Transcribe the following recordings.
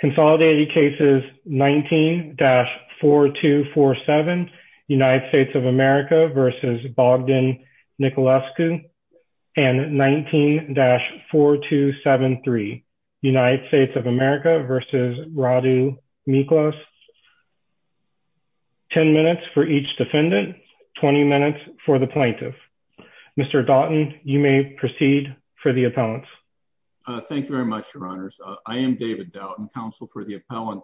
Consolidated cases 19-4247 United States of America v. Bogdan Nicolescu and 19-4273 United States of America v. Radu Miclaus. 10 minutes for each defendant, 20 minutes for the plaintiff. Mr. Doughton, you may proceed for the appellants. Thank you very much, your honors. I am David Doughton, counsel for the appellant,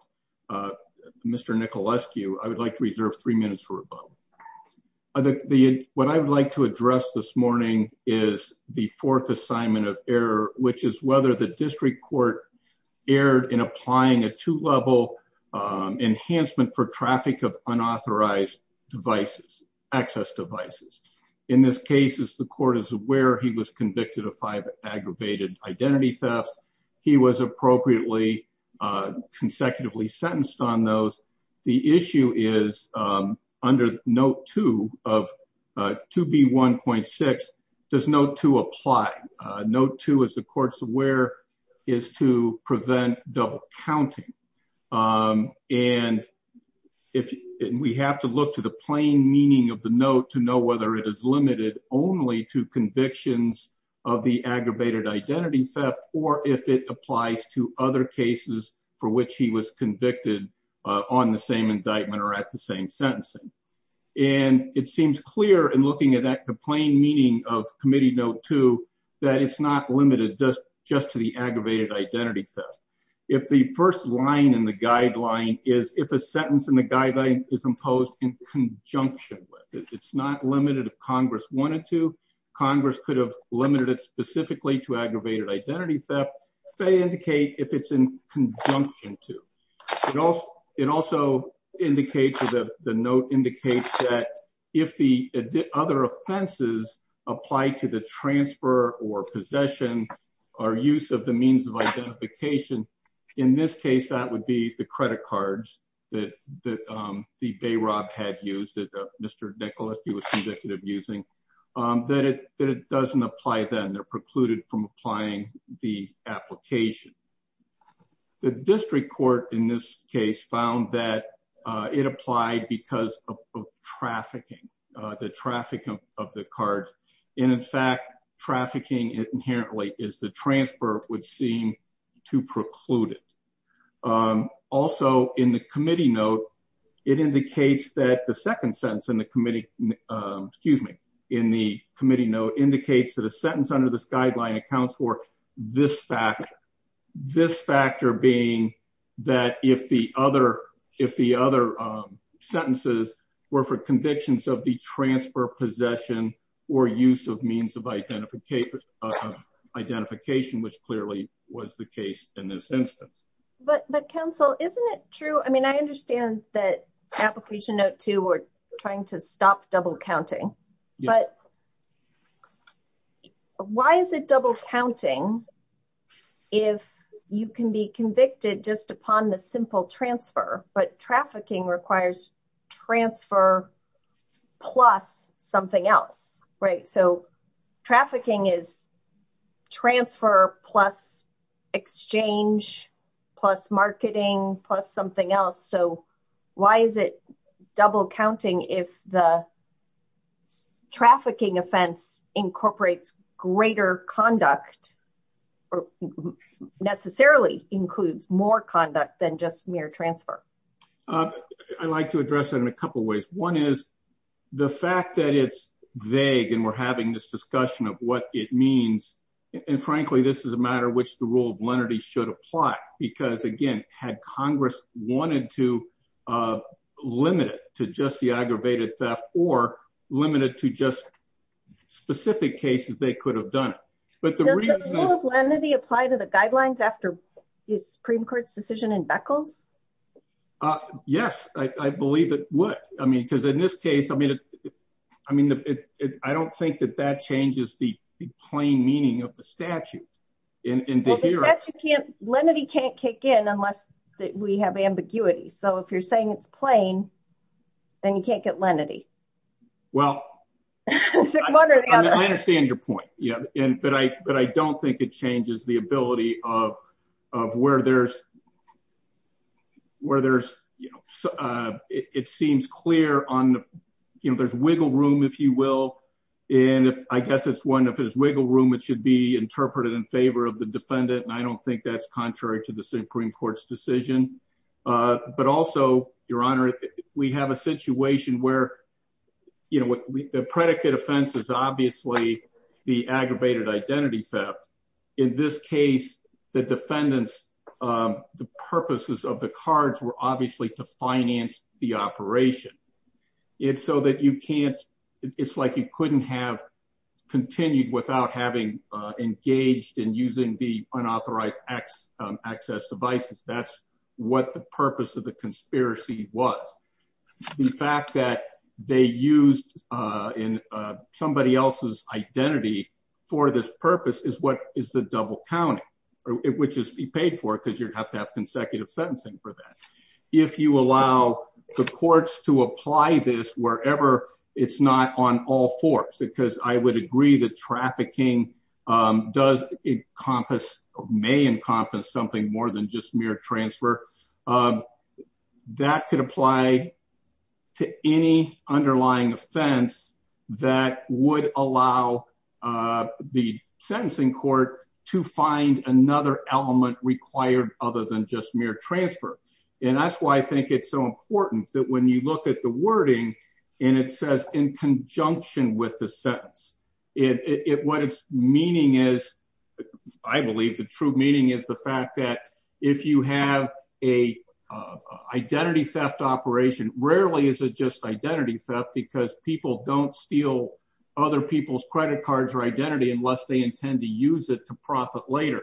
Mr. Nicolescu. I would like to reserve three minutes for rebuttal. What I would like to address this morning is the fourth assignment of error, which is whether the district court erred in applying a two-level enhancement for traffic of unauthorized devices, access devices. In this case, the court is aware he was convicted of five aggravated identity thefts. He was appropriately consecutively sentenced on those. The issue is, under note two of 2B1.6, does note two apply? Note two, as the court's aware, is to prevent double counting. And we have to look to the convictions of the aggravated identity theft or if it applies to other cases for which he was convicted on the same indictment or at the same sentencing. And it seems clear in looking at the plain meaning of committee note two that it's not limited just to the aggravated identity theft. If the first line in the guideline is, if a sentence in the guideline is imposed in conjunction with. It's not limited if Congress wanted to. Congress could have limited it specifically to aggravated identity theft. They indicate if it's in conjunction to. It also indicates, the note indicates that if the other offenses apply to the transfer or possession or use of the means of conviction, that it doesn't apply then. They're precluded from applying the application. The district court in this case found that it applied because of trafficking. The traffic of the cards. And in fact, trafficking inherently is the transfer which seemed to preclude it. Um, also in the committee note, it indicates that the second sentence in the committee, excuse me, in the committee note indicates that a sentence under this guideline accounts for this fact, this factor being that if the other, if the other sentences were for convictions of the transfer possession or use of means of identification, which clearly was the case in this instance. But, but counsel, isn't it true? I mean, I understand that application note two, we're trying to stop double counting, but why is it double counting? If you can be convicted just upon the simple transfer, but trafficking requires transfer plus something else, right? So trafficking is transfer plus exchange, plus marketing, plus something else. So why is it double counting? If the trafficking offense incorporates greater conduct or necessarily includes more conduct than just mere transfer. Um, I like to address it in a couple of ways. One is the fact that it's vague and we're having this discussion of what it means. And frankly, this is a matter which the rule of lenity should apply, because again, had Congress wanted to, uh, limit it to just the aggravated theft or limited to just specific cases, they could have done it. But the rule of lenity applied to the uh, yes, I believe it would. I mean, cause in this case, I mean, I mean, I don't think that that changes the plain meaning of the statute. Lenity can't kick in unless we have ambiguity. So if you're saying it's plain, then you can't get lenity. Well, I understand your point. Yeah. And, but I, but I don't think it changes the ability of, of where there's, where there's, uh, it seems clear on, you know, there's wiggle room, if you will. And I guess it's one of his wiggle room. It should be interpreted in favor of the defendant. And I don't think that's contrary to the Supreme Court's decision. Uh, but also your honor, we have a situation where, you know, the predicate offense is obviously the aggravated identity theft. In this case, the defendants, um, the purposes of the cards were obviously to finance the operation. It's so that you can't, it's like you couldn't have continued without having, uh, engaged in using the unauthorized X, um, access devices. That's what the purpose of the conspiracy was. The fact that they used, uh, in, uh, somebody else's identity for this purpose is what is the double counting, or it would just be paid for it because you'd have to have consecutive sentencing for that. If you allow the courts to apply this wherever it's not on all fours, because I would agree that trafficking, um, does encompass may encompass something more than just mere transfer, um, that could apply to any underlying offense that would allow, uh, the sentencing court to find another element required other than just mere transfer. And that's why I think it's so important that when you look at the wording and it says in conjunction with the sentence, it, it, what its meaning is, I believe the true meaning is the fact that if you have a, uh, identity theft operation, rarely is it just identity theft because people don't steal other people's credit cards or identity unless they intend to use it to profit later.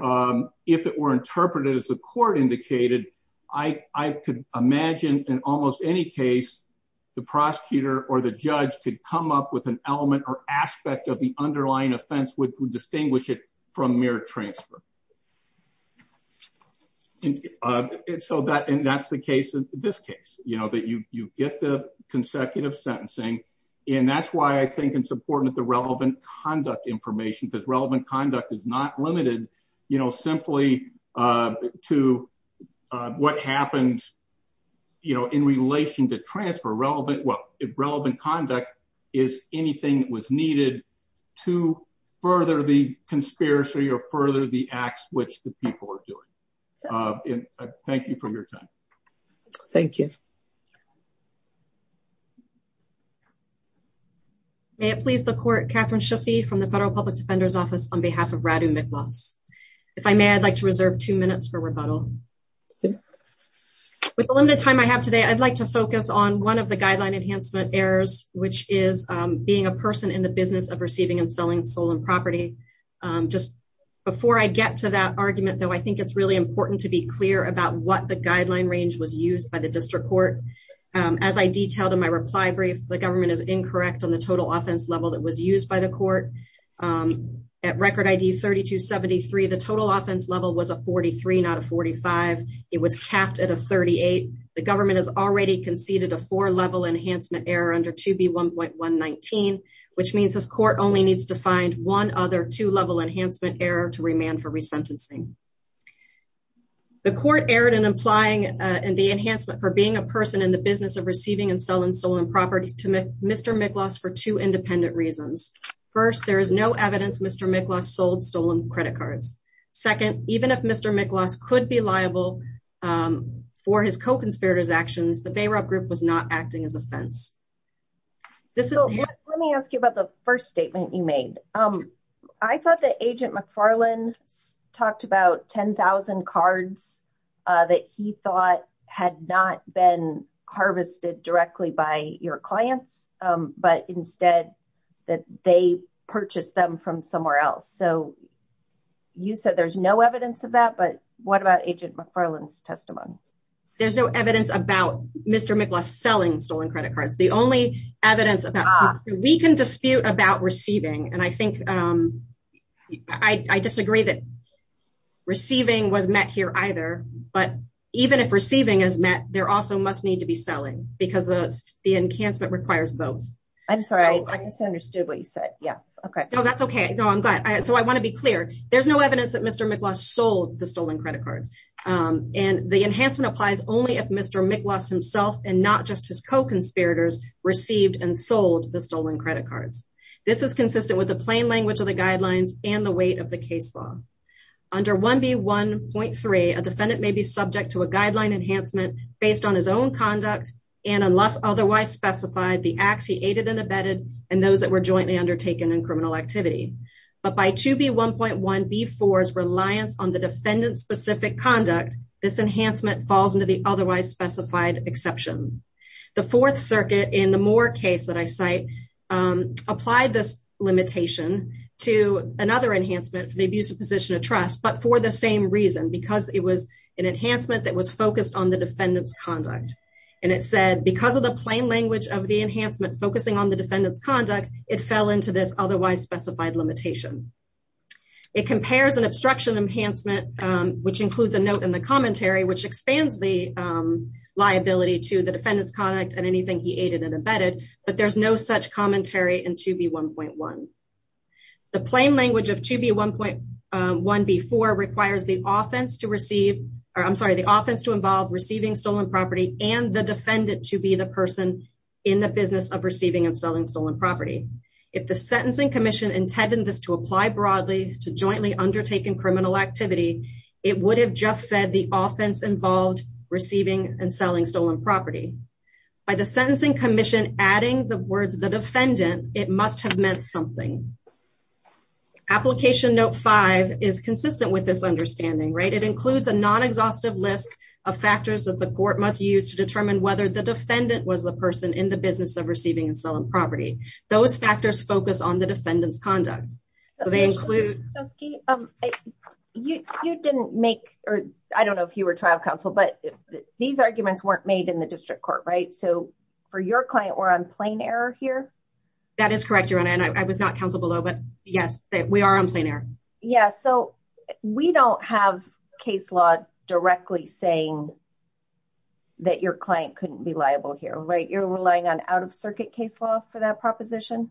Um, if it were interpreted as the court indicated, I, I could imagine in almost any case, the prosecutor or the judge could come up with an element or aspect of the underlying offense, which would distinguish it from mere transfer. And so that, and that's the case in this case, you know, that you, you get the consecutive sentencing. And that's why I think it's important that the relevant conduct information, because relevant conduct is not limited, you know, simply, uh, to, uh, what happened, you know, in relation to transfer relevant, what relevant conduct is anything that was needed to further the conspiracy or further the acts, which the people are doing. And thank you for your time. Thank you. Okay. May it please the court, Catherine Schusse from the federal public defender's office on behalf of Radu Miklos. If I may, I'd like to reserve two minutes for rebuttal. With the limited time I have today, I'd like to focus on one of the guideline enhancement errors, which is, um, being a person in the business of receiving and selling stolen property. Um, just before I get to that argument, though, I think it's really important to be clear about what the guideline range was used by the district court. Um, as I detailed in my reply brief, the government is incorrect on the total offense level that was used by the court. Um, at record ID 3273, the total offense level was a 43, not a 45. It was capped at a 38. The government has already conceded a four level enhancement error under 2B1.119, which means this court only needs to find one other two level enhancement error to remand for uh, in the enhancement for being a person in the business of receiving and selling stolen property to Mr. Miklos for two independent reasons. First, there is no evidence Mr. Miklos sold stolen credit cards. Second, even if Mr. Miklos could be liable, um, for his co-conspirators actions, the Bayrob group was not acting as offense. This is- So let me ask you about the first statement you made. Um, I thought that Agent McFarlane talked about 10,000 cards, uh, that he thought had not been harvested directly by your clients, um, but instead that they purchased them from somewhere else. So you said there's no evidence of that, but what about Agent McFarlane's testimony? There's no evidence about Mr. Miklos selling stolen credit cards. The only that receiving was met here either, but even if receiving is met, there also must need to be selling because the, the enhancement requires both. I'm sorry. I misunderstood what you said. Yeah. Okay. No, that's okay. No, I'm glad. So I want to be clear. There's no evidence that Mr. Miklos sold the stolen credit cards. Um, and the enhancement applies only if Mr. Miklos himself, and not just his co-conspirators received and sold the stolen credit cards. This is consistent with the plain language of the guidelines and the weight of the case law. Under 1B1.3, a defendant may be subject to a guideline enhancement based on his own conduct and unless otherwise specified the acts he aided and abetted and those that were jointly undertaken in criminal activity. But by 2B1.1B4's reliance on the defendant's specific conduct, this enhancement falls into the otherwise specified exception. The Fourth Circuit in the Moore case that I cite, applied this limitation to another enhancement for the abusive position of trust, but for the same reason, because it was an enhancement that was focused on the defendant's conduct. And it said, because of the plain language of the enhancement focusing on the defendant's conduct, it fell into this otherwise specified limitation. It compares an obstruction enhancement, which includes a note in the commentary, which expands the liability to the defendant's conduct and anything he aided and abetted, but there's no such commentary in 2B1.1. The plain language of 2B1.1B4 requires the offense to receive, or I'm sorry, the offense to involve receiving stolen property and the defendant to be the person in the business of receiving and selling stolen property. If the Sentencing Commission intended this to apply broadly to jointly undertaken criminal activity, it would have just said the offense involved receiving and selling stolen property. By the Sentencing Commission adding the words, the defendant, it must have meant something. Application Note 5 is consistent with this understanding, right? It includes a non-exhaustive list of factors that the court must use to determine whether the defendant was the person in the business of receiving and selling property. Those factors focus on the defendant's conduct. So they include- You didn't make, or I don't know if you were trial counsel, but these arguments weren't made in the district court, right? So for your client, we're on plain error here? That is correct, Your Honor, and I was not counsel below, but yes, we are on plain error. Yeah, so we don't have case law directly saying that your client couldn't be liable here, right? You're relying on out-of-circuit case law for that proposition?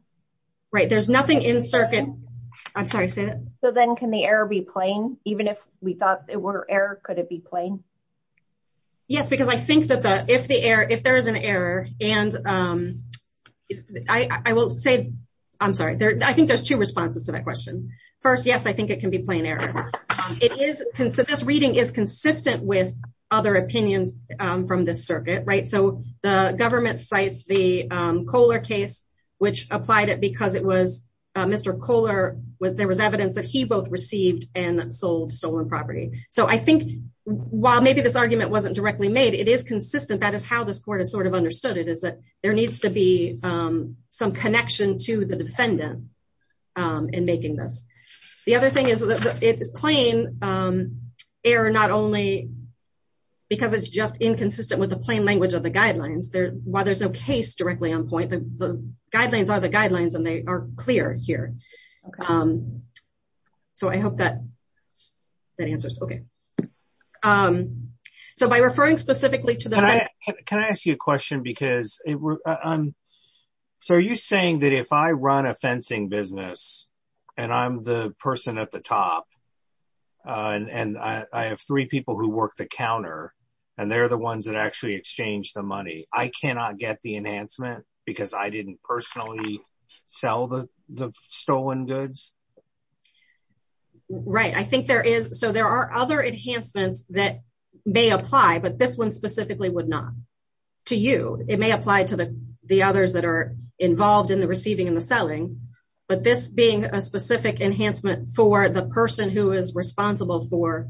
Right, there's nothing in circuit. I'm sorry, say that. So then can the error be plain? Even if we thought it were error, could it be plain? Yes, because I think that if there is an error, and I will say, I'm sorry, I think there's two responses to that question. First, yes, I think it can be plain error. It is consistent, this reading is consistent with other opinions from this circuit, right? So the government cites the Kohler case, which applied it because it was Mr. Kohler, there was evidence that he both received and sold stolen property. So I think while maybe this argument wasn't directly made, it is consistent, that is how this court has sort of understood it, is that there needs to be some connection to the defendant in making this. The other thing is that it is plain error, not only because it's just inconsistent with the plain language of the guidelines, while there's no case directly on point, the guidelines are the guidelines, and they are clear here. So I hope that answers, okay. So by referring specifically to the... Can I ask you a question? So are you saying that if I run a fencing business, and I'm the person at the top, and I have three people who work the counter, and they're the ones that actually exchange the money, I cannot get the enhancement because I didn't personally sell the stolen goods? Right, I think there is. So there are other enhancements that may apply, but this one specifically would not. To you, it may apply to the others that are involved in the receiving and the selling, but this being a specific enhancement for the person who is responsible for...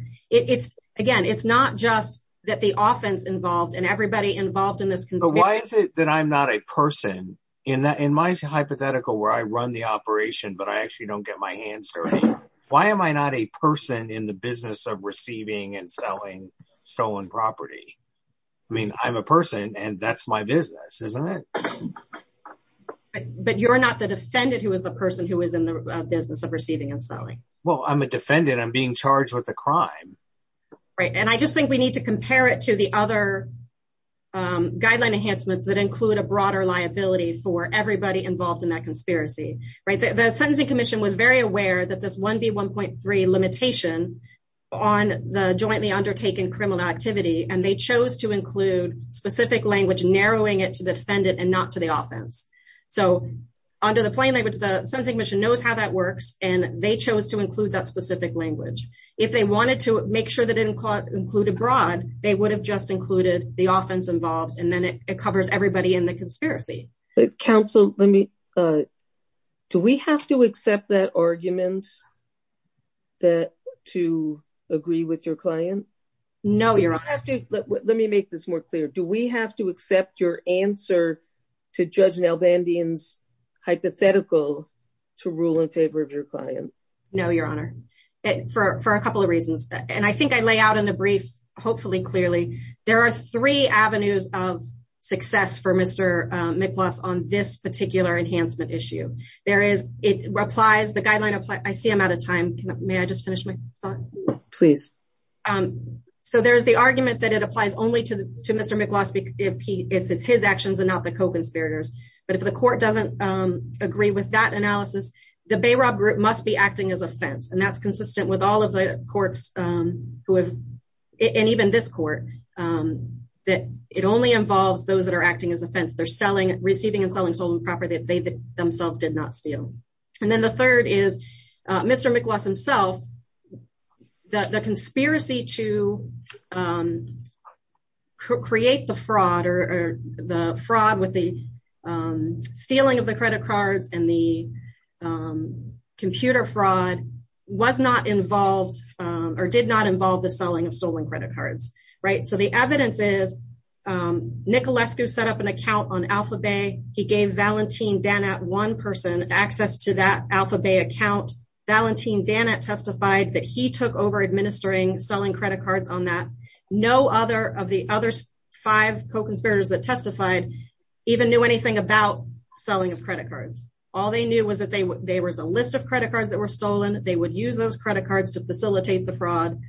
Again, it's not just that the offense involved and everybody involved in this... So why is it that I'm not a person? In my hypothetical where I run the operation, but I actually don't get my hands dirty, why am I not a person in the business of receiving and selling stolen property? I mean, I'm a person and that's my business, isn't it? But you're not the defendant who is the person who is in the business of receiving and selling. Well, I'm a defendant. I'm being charged with a crime. Right, and I just think we need to compare it to the other guideline enhancements that include a broader liability for everybody involved in that conspiracy. The Sentencing Commission was very aware that this 1B1.3 limitation on the jointly undertaken criminal activity, and they chose to include specific language narrowing it to the defendant and not to the offense. So under the plain language, the Sentencing Commission knows how that works and they chose to include that specific language. If they wanted to make sure they didn't include abroad, they would have just included the offense involved and then it covers everybody in the conspiracy. Counsel, do we have to accept that argument to agree with your client? No, Your Honor. Let me make this more clear. Do we have to accept your answer to Judge Nalbandian's hypothetical to rule in favor of your client? No, Your Honor, for a couple of reasons, and I think I lay out in the brief, hopefully clearly, there are three avenues of success for Mr. Miklos on this particular enhancement issue. There is, it applies, the guideline applies, I see I'm out of time. May I just finish my thought? Please. So there's the argument that it applies only to Mr. Miklos if it's his actions and not the Koch conspirators. But if the court doesn't agree with that analysis, the Bayrob group must be acting as offense. And that's consistent with all of the courts who have, and even this court, that it only involves those that are acting as offense. They're selling, receiving and selling stolen property that they themselves did not steal. And then the third is Mr. Miklos himself, that the conspiracy to create the fraud or the fraud with the stealing of the credit cards and the computer fraud was not involved or did not involve the selling of stolen credit cards, right? So the evidence is Nikolescu set up an account on AlphaBay. He gave Valentin Danat one person access to that AlphaBay account. Valentin Danat testified that he took over administering selling credit cards on that. No other of the other five Koch conspirators that testified even knew anything about selling of credit cards. All they knew was that there was a list of credit cards that were stolen. They would use those credit cards to facilitate the fraud.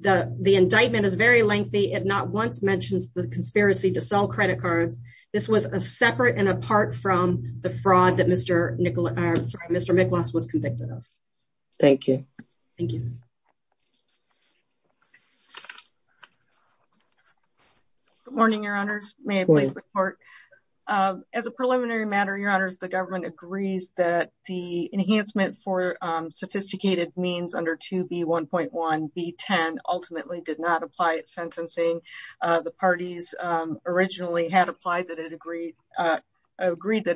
The indictment is very lengthy. It not once mentions the conspiracy to sell credit cards. This was a separate and apart from the fraud that Mr. Miklos was convicted of. Thank you. Good morning, Your Honors. May I please report? As a preliminary matter, Your Honors, the government agrees that the enhancement for sophisticated means under 2B1.1B10 ultimately did not apply at sentencing. The parties originally had agreed that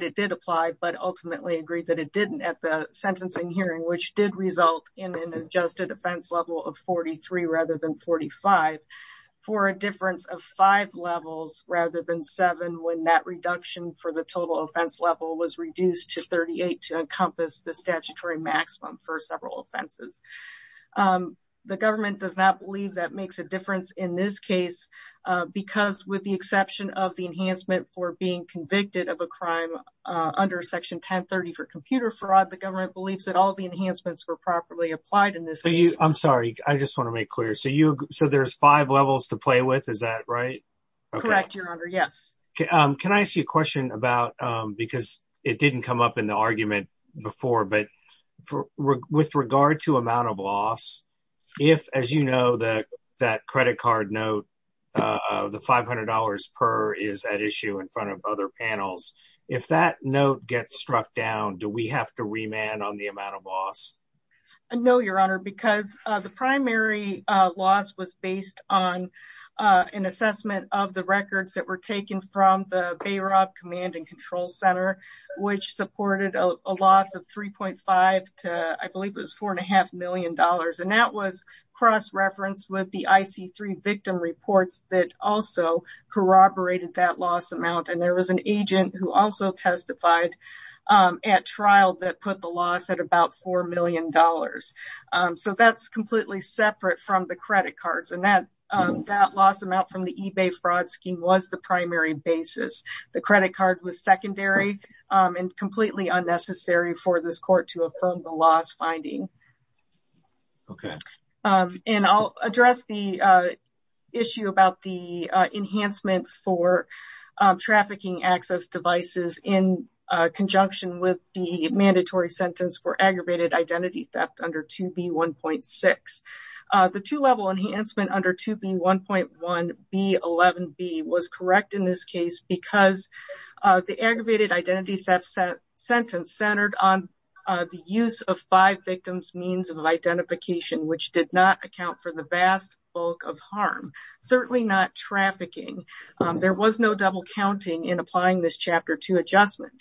it did apply, but ultimately agreed that it didn't at the sentencing hearing, which did result in an adjusted offense level of 43 rather than 45 for a difference of five levels rather than seven when that reduction for the total offense level was reduced to 38 to encompass the statutory maximum for several offenses. The government does not believe that makes a difference in this case because with the exception of the enhancement for being convicted of a crime under Section 1030 for computer fraud, the government believes that all the enhancements were properly applied in this. I'm sorry. I just want to make clear. So there's five levels to play with. Is that right? Correct, Your Honor. Yes. Can I ask you a question about because it didn't come up in the argument before, but with regard to amount of loss, if, as you know, that credit card note, the $500 per is at issue in front of other panels, if that note gets struck down, do we have to remand on the amount of loss? No, Your Honor, because the primary loss was based on an assessment of the records that were taken from the Bayrob Command and Control Center, which supported a loss of 3.5 to, I believe it was $4.5 million. And that was cross-referenced with the IC3 victim reports that also corroborated that loss amount. And there was an agent who also testified at trial that put the loss at about $4 million. So that's completely separate from the credit cards. And that loss amount from the eBay fraud scheme was the primary basis. The credit card was secondary and completely unnecessary for this court to affirm the loss finding. Okay. And I'll address the issue about the enhancement for trafficking access devices in conjunction with the mandatory sentence for aggravated identity theft under 2B1.6. The two-level the aggravated identity theft sentence centered on the use of five victims' means of identification, which did not account for the vast bulk of harm, certainly not trafficking. There was no double counting in applying this Chapter 2 adjustment.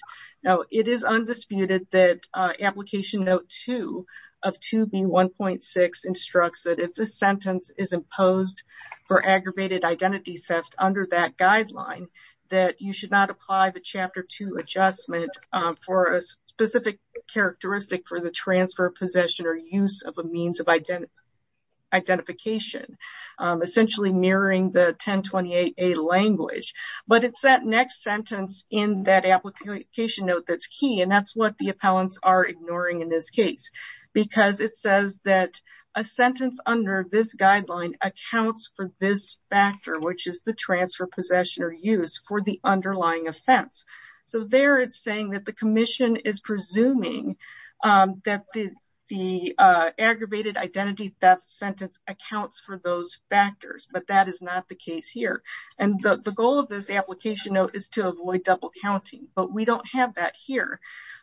Now, it is undisputed that Application Note 2 of 2B1.6 instructs that if this sentence is imposed for aggravated identity theft under that guideline, that you should not apply the Chapter 2 adjustment for a specific characteristic for the transfer, possession, or use of a means of identification, essentially mirroring the 1028a language. But it's that next sentence in that Application Note that's key, and that's what the appellants are ignoring in this case. Because it says that a sentence under this guideline accounts for this factor, which is the transfer, possession, or use for the underlying offense. So there it's saying that the Commission is presuming that the aggravated identity theft sentence accounts for those factors, but that is not the case here. And the goal of this Application Note is to avoid double counting, but we don't have that here.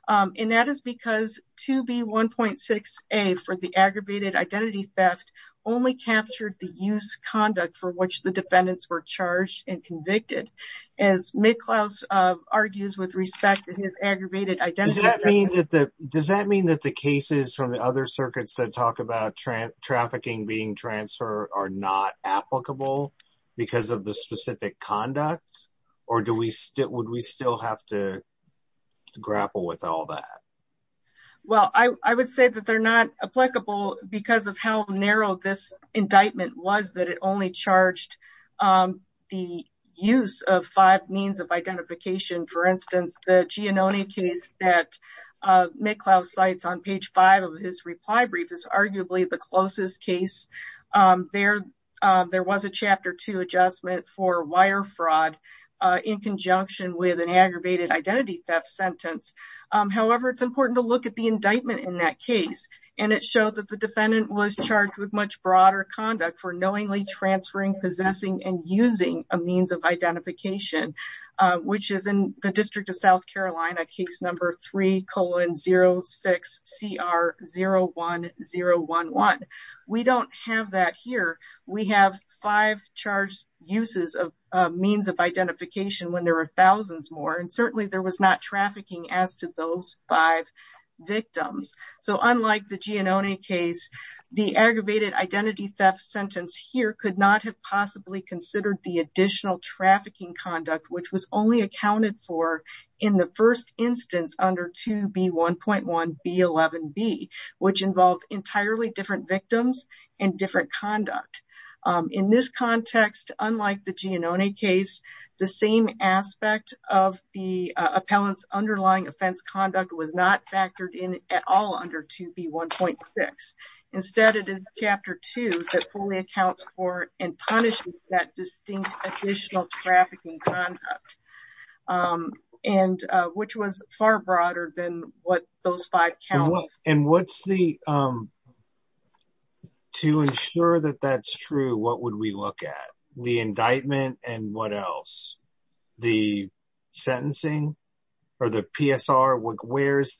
And that is because 2B1.6a for the aggravated identity theft only captured the use conduct for which the defendants were charged and convicted. As McLeod argues with respect to his aggravated identity theft. Does that mean that the cases from the other circuits that talk about trafficking being transferred are not applicable because of the specific conduct? Or would we still have to Well, I would say that they're not applicable because of how narrow this indictment was that it only charged the use of five means of identification. For instance, the Giannone case that McLeod cites on page five of his reply brief is arguably the closest case. There was a chapter two adjustment for wire fraud in conjunction with an aggravated identity theft sentence. However, it's important to look at the indictment in that case, and it showed that the defendant was charged with much broader conduct for knowingly transferring, possessing, and using a means of identification, which is in the District of South Carolina, case number 3.06CR01011. We don't have that here. We have five charged uses of means of identification when there are thousands more, and certainly there was not trafficking as to those five victims. So, unlike the Giannone case, the aggravated identity theft sentence here could not have possibly considered the additional trafficking conduct which was only accounted for in the first instance under 2B1.1B11B, which involved entirely different victims and different conduct. In this context, unlike the Giannone case, the same aspect of the appellant's underlying offense conduct was not factored in at all under 2B1.6. Instead, it is chapter two that fully accounts for and punishes that distinct additional trafficking conduct, which was far So, if that's true, what would we look at? The indictment and what else? The sentencing or the PSR? Where's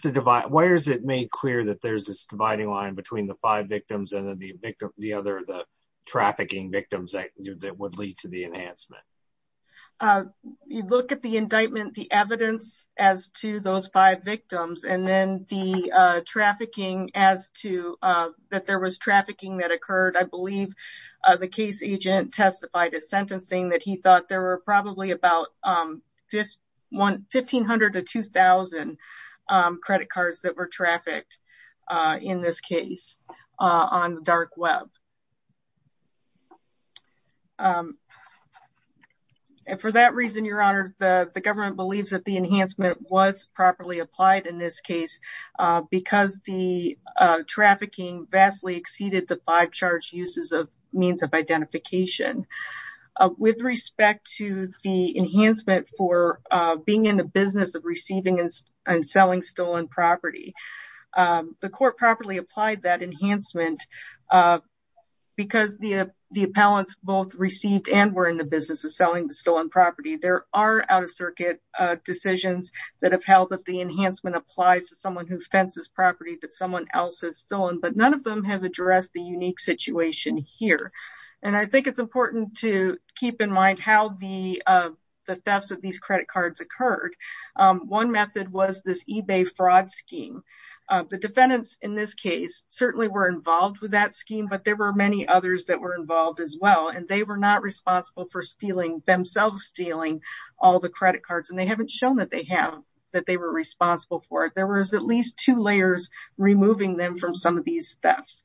the divide? Why is it made clear that there's this dividing line between the five victims and then the other, the trafficking victims that would lead to the enhancement? You look at the indictment, the evidence as to those five victims, and then the trafficking as to that there was trafficking that occurred. I believe the case agent testified as sentencing that he thought there were probably about 1,500 to 2,000 credit cards that were trafficked in this case on the dark web. For that reason, Your Honor, the government believes that the enhancement was properly applied in this case because the trafficking vastly exceeded the five charge uses of means of identification. With respect to the enhancement for being in the business of receiving and selling stolen property, the court properly applied that enhancement because the appellants both received and were in the business of selling the stolen property. There are out-of-circuit decisions that have held that the enhancement applies to someone who fences property that someone else has stolen, but none of them have addressed the unique situation here. I think it's important to keep in mind how the thefts of these credit cards occurred. One method was this eBay fraud scheme. The defendants in this case certainly were involved with that scheme, but there were many others that were involved as well, and they were not shown that they were responsible for it. There were at least two layers removing them from some of these thefts.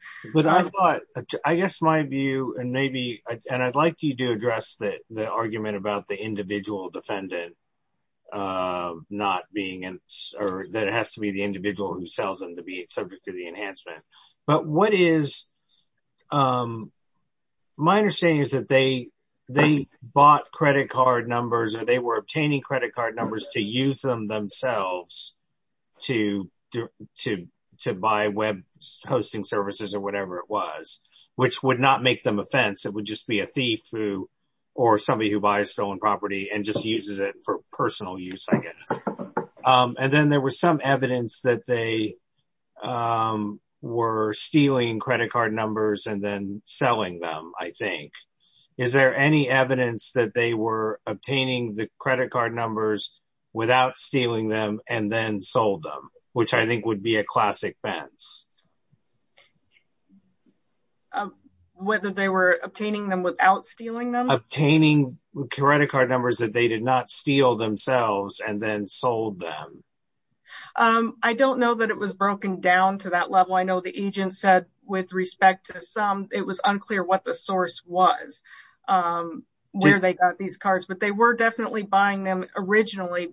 I guess my view, and I'd like you to address the argument about the individual defendant that it has to be the individual who sells them to be subject to the enhancement. But my understanding is that they bought credit card numbers or they were obtaining credit card numbers to use them themselves to buy web hosting services or whatever it was, which would not make them a fence. It would just be a thief or somebody who buys stolen property and just uses it for stealing credit card numbers and then selling them, I think. Is there any evidence that they were obtaining the credit card numbers without stealing them and then sold them, which I think would be a classic fence? Whether they were obtaining them without stealing them? Obtaining credit card numbers that they did not steal themselves and then sold them. I don't know that it was broken down to that level. I know the agent said with respect to some, it was unclear what the source was, where they got these cards, but they were definitely buying them originally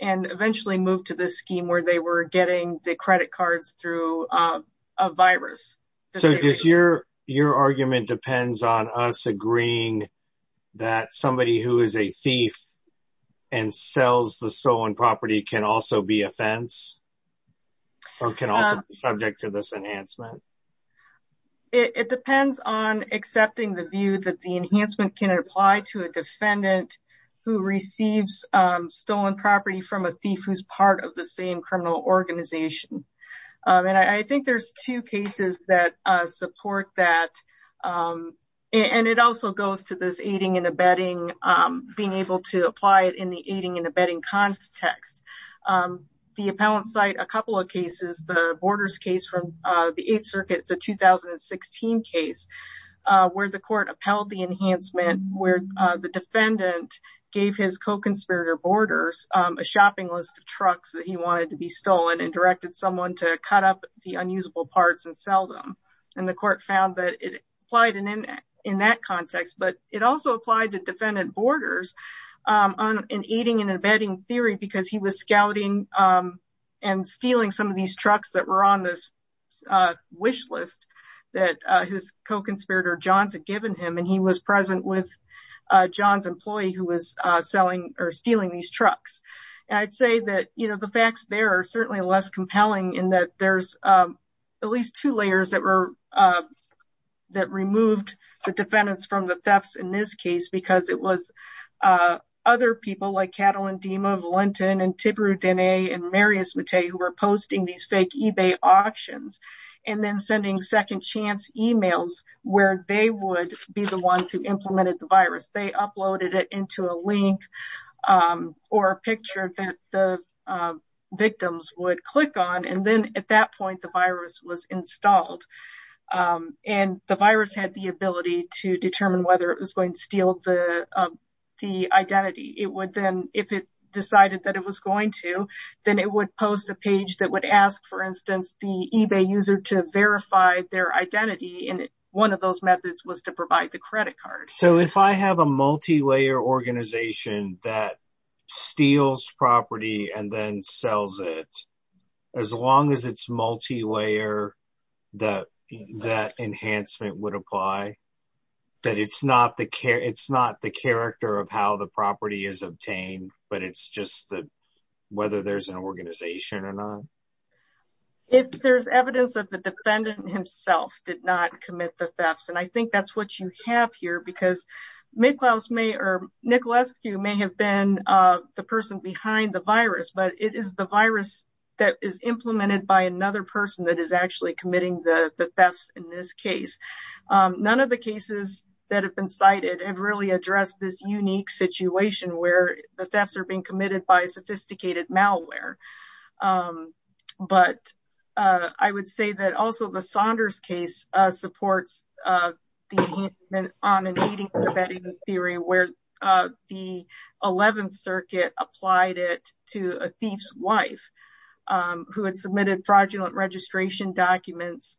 and eventually moved to this scheme where they were getting the credit cards through a virus. So your argument depends on us agreeing that somebody who is a thief and sells the stolen property can also be a fence or can also be subject to this enhancement? It depends on accepting the view that the enhancement can apply to a defendant who receives stolen property from a thief who's part of the same criminal organization. And I think there's two cases that support that. And it also goes to this aiding and abetting, being able to apply it in the aiding and abetting context. The appellant cite a couple of cases, the Borders case from the Eighth Circuit, it's a 2016 case where the court upheld the enhancement where the defendant gave his co-conspirator Borders a shopping list of trucks that he cut up the unusable parts and sell them. And the court found that it applied in that context, but it also applied to defendant Borders in aiding and abetting theory because he was scouting and stealing some of these trucks that were on this wish list that his co-conspirator Johns had given him. And he was present with John's employee who was selling or stealing these trucks. And I'd say that, you know, the facts there are certainly less compelling in that there's at least two layers that were, that removed the defendants from the thefts in this case, because it was other people like Catalin Dima, Valentin and Tibiru Dene and Marius Mate who were posting these fake eBay auctions and then sending second chance emails where they would be the ones who implemented the virus. They uploaded it into a link or a picture that the victims would click on. And then at that point, the virus was installed and the virus had the ability to determine whether it was going to steal the identity. It would then, if it decided that it was going to, then it would post a page that would ask, for instance, the eBay user to verify their identity. And one of those was to provide the credit card. So if I have a multi-layer organization that steals property and then sells it, as long as it's multi-layer, that that enhancement would apply? That it's not the care, it's not the character of how the property is obtained, but it's just that whether there's an organization or not? If there's evidence that the defendant himself did not commit the thefts. And I think that's what you have here because Nikolascu may have been the person behind the virus, but it is the virus that is implemented by another person that is actually committing the thefts in this case. None of the cases that have been cited have really addressed this unique situation where the thefts are being committed by sophisticated malware. But I would say that also the Saunders case supports the enhancement on an 80-year betting theory where the 11th circuit applied it to a thief's wife who had submitted fraudulent registration documents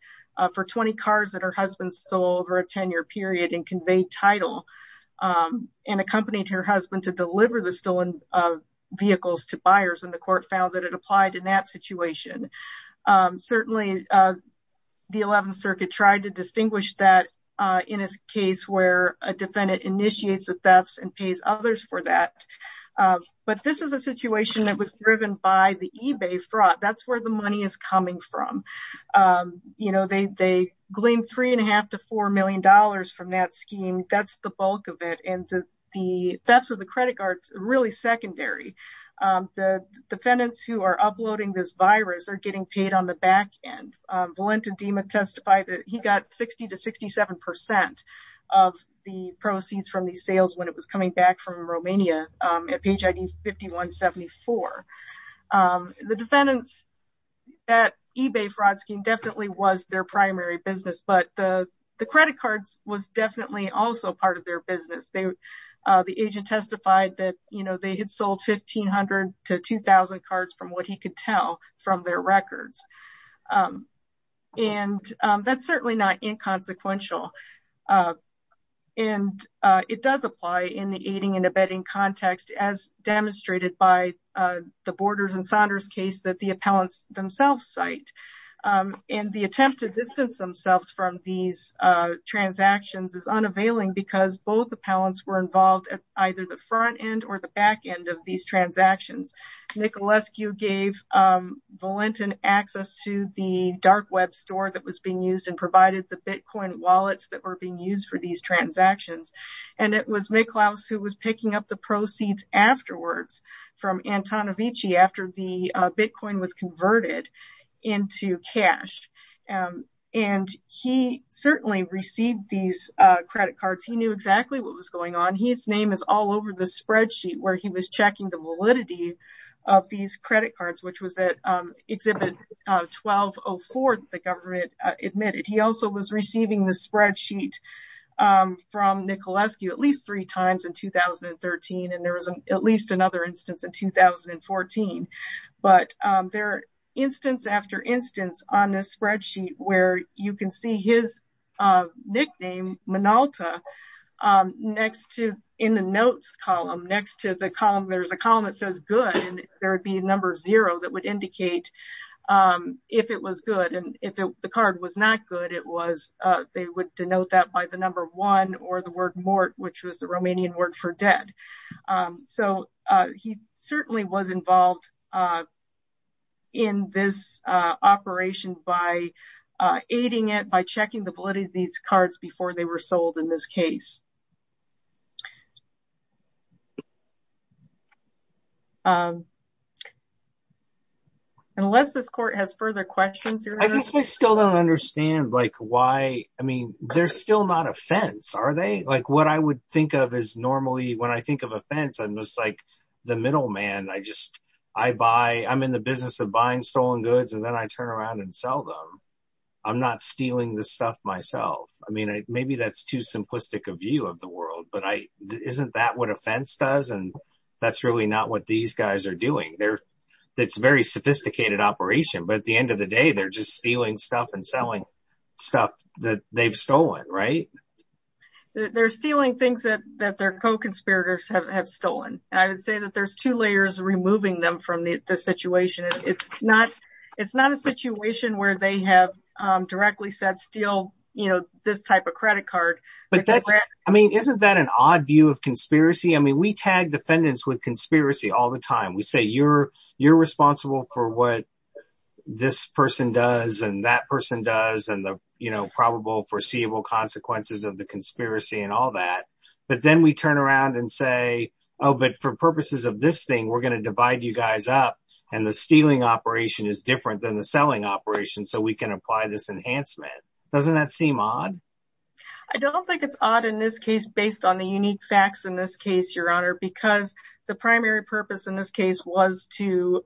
for 20 cars that her husband stole over a 10-year period and conveyed title and accompanied her husband to deliver the stolen vehicles to buyers and the court found that it applied in that situation. Certainly, the 11th circuit tried to distinguish that in a case where a defendant initiates the thefts and pays others for that. But this is a situation that was driven by the eBay fraud. That's where the money is coming from. They glean three and a half to four million dollars from that scheme. That's the bulk of it and the thefts of the credit cards are really secondary. The defendants who are uploading this virus are getting paid on the back end. Valentin Dima testified that he got 60 to 67 percent of the proceeds from these sales when it was coming back from Romania at page ID 5174. The defendants at eBay fraud scheme definitely was their primary business but the credit cards was definitely also part of their business. The agent testified that they had sold 1,500 to 2,000 cards from what he could tell from their records. That's certainly not inconsequential. It does apply in the aiding and abetting context as demonstrated by the Borders and Saunders case that the appellants themselves cite. The attempt to distance themselves from these transactions is unavailing because both appellants were involved at either the front end or the back end of these transactions. Nicolescu gave Valentin access to the dark web store that was being used and provided the bitcoin wallets that were being used for these transactions. It was Miklaus who was into cash and he certainly received these credit cards. He knew exactly what was going on. His name is all over the spreadsheet where he was checking the validity of these credit cards which was at exhibit 1204 that the government admitted. He also was receiving the spreadsheet from Nicolescu at least three times in 2013 and there was at least another instance in 2014. But there are instance after instance on this spreadsheet where you can see his nickname Minolta in the notes column. Next to the column there's a column that says good and there would be a number zero that would indicate if it was good and if the card was not good it was they would denote that by the number one or the word mort which was the Romanian word for dead. So he certainly was involved in this operation by aiding it by checking the validity of these cards before they were sold in this case. Unless this court has further questions. I guess I still don't understand like why I mean they're still not a fence are they? Like what I would think of is normally when I think of a fence I'm just like the middleman. I just I buy I'm in the business of buying stolen goods and then I turn around and sell them. I'm not stealing this stuff myself. I mean maybe that's too simplistic a view of the world but isn't that what a fence does? And that's really not what these guys are doing. It's a very sophisticated operation but at the end of the day they're just stealing stuff and selling stuff that they've stolen right? They're stealing things that that their co-conspirators have stolen. I would say that there's two layers removing them from the situation. It's not a situation where they have directly said steal you know this type of credit card. But that's I mean isn't that an odd view of conspiracy? I mean we tag defendants with conspiracy all the time. We say you're responsible for what this person does and that person does and the you know probable foreseeable consequences of the conspiracy and all that. But then we turn around and say oh but for purposes of this thing we're going to divide you guys up and the stealing operation is different than the selling operation so we can apply this enhancement. Doesn't that seem odd? I don't think it's odd in this case based on the unique facts in this case your honor because the primary purpose in this case was to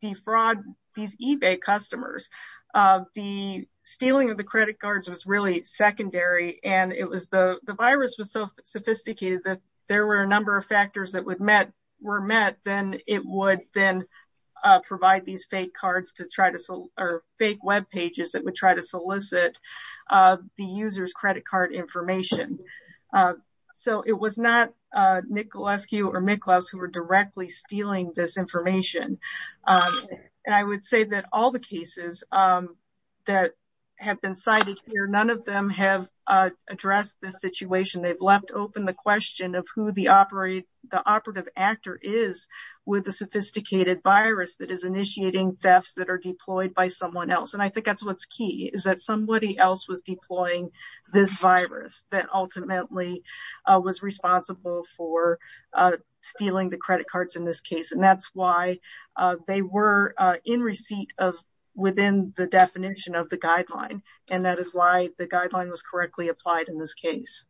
defraud these ebay customers. The stealing of the credit cards was really secondary and it was the the virus was so sophisticated that there were a number of factors that would met were met then it would then provide these fake cards to try to sell or fake web pages that would try to solicit the user's credit card information. So it was not Nicolescu or Miklos who were directly stealing this information and I would say that all the cases that have been cited here none of them have addressed this situation. They've left open the question of who the operate the operative actor is with the sophisticated virus that is initiating thefts that are deployed by someone else and I think that's what's key is that somebody else was deploying this virus that ultimately was responsible for stealing the credit cards in this case and that's why they were in receipt of within the definition of the guideline and that is why the guideline was correctly applied in this case.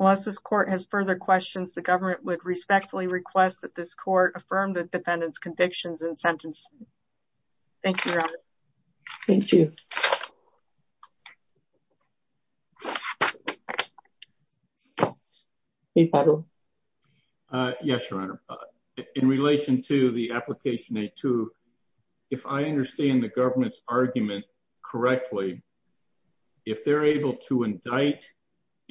Unless this court has further questions the government would respectfully request that this court affirm the defendant's convictions and sentencing. Thank you your honor. Thank you. Yes your honor in relation to the application a2 if I understand the government's argument correctly if they're able to indict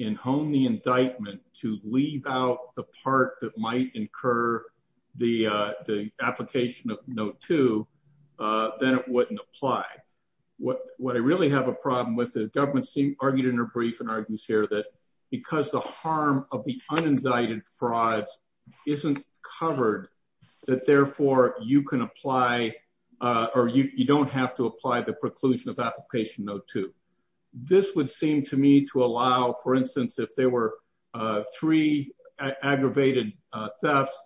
and hone the indictment to leave out the part that might incur the uh the application of note two uh then it wouldn't apply. What what I really have a problem with the government seemed argued in her brief and argues here that because the harm of the unindicted frauds isn't covered that therefore you can apply uh or you you don't have to apply the preclusion of application note two. This would seem to me to allow for instance if there were uh three aggravated uh thefts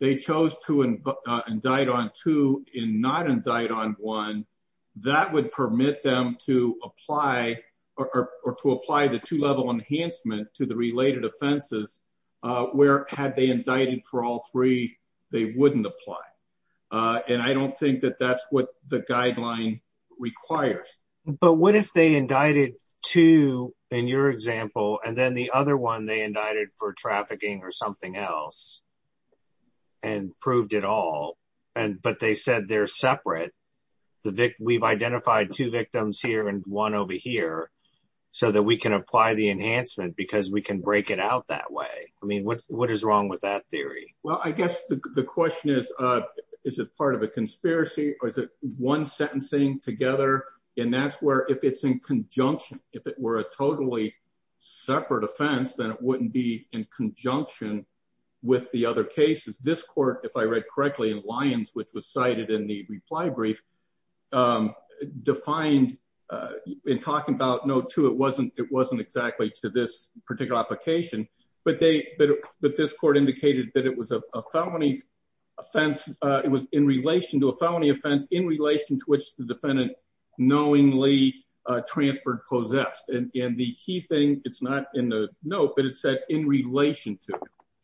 they chose to indict on two and not indict on one that would permit them to apply or to apply the two-level enhancement to the related offenses uh where had they indicted for all three they wouldn't apply uh and I don't think that that's what the guideline requires. But what if they indicted two in your example and then the other one they indicted for trafficking or something else and proved it all and but they said they're separate the vic we've identified two victims here and one over here so that we can apply the enhancement because we can break it out that way. I mean what what is wrong with that theory? Well I guess the question is uh is it part of a conspiracy or is it one sentencing together and that's where if it's in conjunction if it were a totally separate offense then it wouldn't be in conjunction with the other cases. This court if I read correctly in Lyons which was cited in the reply brief um defined uh in talking about note two it wasn't it wasn't exactly to this particular application but they but this court indicated that it was a felony offense uh it was in relation to a felony offense in relation to which the defendant knowingly uh transferred possessed and and the key thing it's not in the but it said in relation to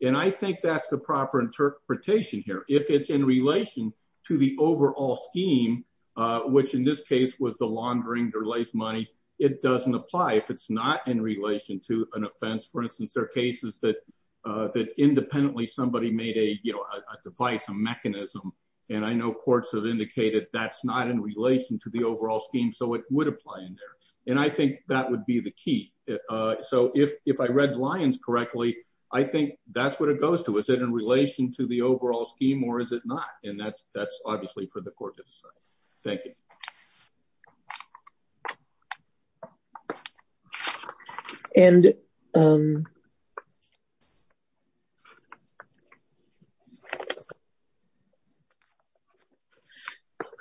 and I think that's the proper interpretation here if it's in relation to the overall scheme uh which in this case was the laundering delays money it doesn't apply if it's not in relation to an offense for instance there are cases that uh that independently somebody made a you know a device a mechanism and I know courts have indicated that's not in relation to the overall scheme so it would apply in there and I think that would be the key. So if if I read Lyons correctly I think that's what it goes to is it in relation to the overall scheme or is it not and that's that's obviously for the court to decide. Thank you. And um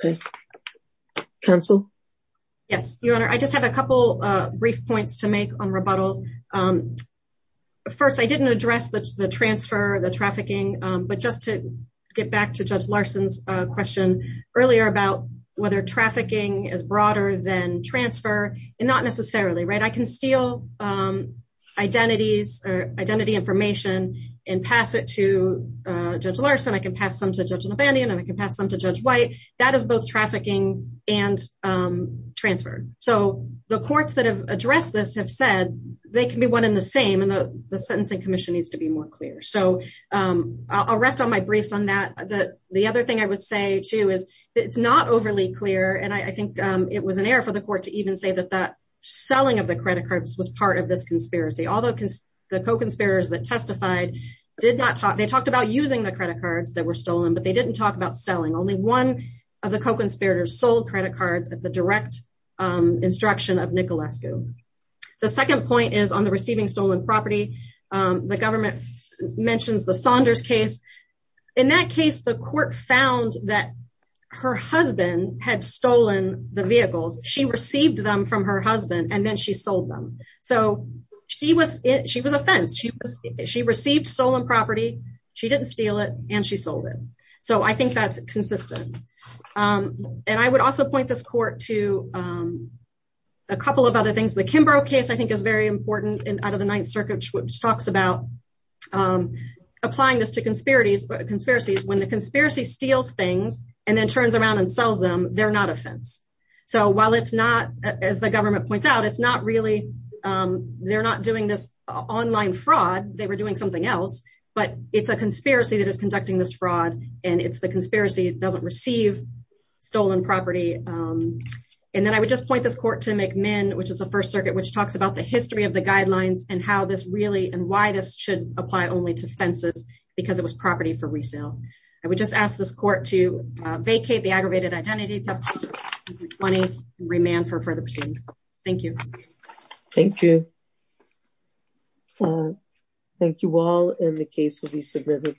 Okay. Counsel. Yes, your honor. I just have a couple uh brief points to make on rebuttal um first I didn't address the transfer the trafficking um but just to get back to Judge Larson's uh question earlier about whether trafficking is broader than transfer and not necessarily right I can steal um identities or identity information and I can steal identities and pass it to uh Judge Larson I can pass them to Judge Labandian and I can pass them to Judge White that is both trafficking and um transfer so the courts that have addressed this have said they can be one in the same and the the sentencing commission needs to be more clear so um I'll rest on my briefs on that the the other thing I would say too is it's not overly clear and I think um it was an error for the court to even say that that selling of the credit cards was part of this although the co-conspirators that testified did not talk they talked about using the credit cards that were stolen but they didn't talk about selling only one of the co-conspirators sold credit cards at the direct um instruction of Nicolescu the second point is on the receiving stolen property um the government mentions the Saunders case in that case the court found that her husband had stolen the vehicles she received them from her husband and then she sold them so she was she was offense she was she received stolen property she didn't steal it and she sold it so I think that's consistent um and I would also point this court to um a couple of other things the Kimbrough case I think is very important and out of the ninth circuit which talks about um applying this to conspiracies conspiracies when the conspiracy steals things and then turns around and sells them they're not offense so while it's not as the government points out it's not really um they're not doing this online fraud they were doing something else but it's a conspiracy that is conducting this fraud and it's the conspiracy it doesn't receive stolen property um and then I would just point this court to McMinn which is the first circuit which talks about the history of the guidelines and how this really and why this should apply only to fences because it was property for resale I would just ask this court to vacate the aggravated identity 20 and remand for further proceedings thank you thank you thank you all and the case will be submitted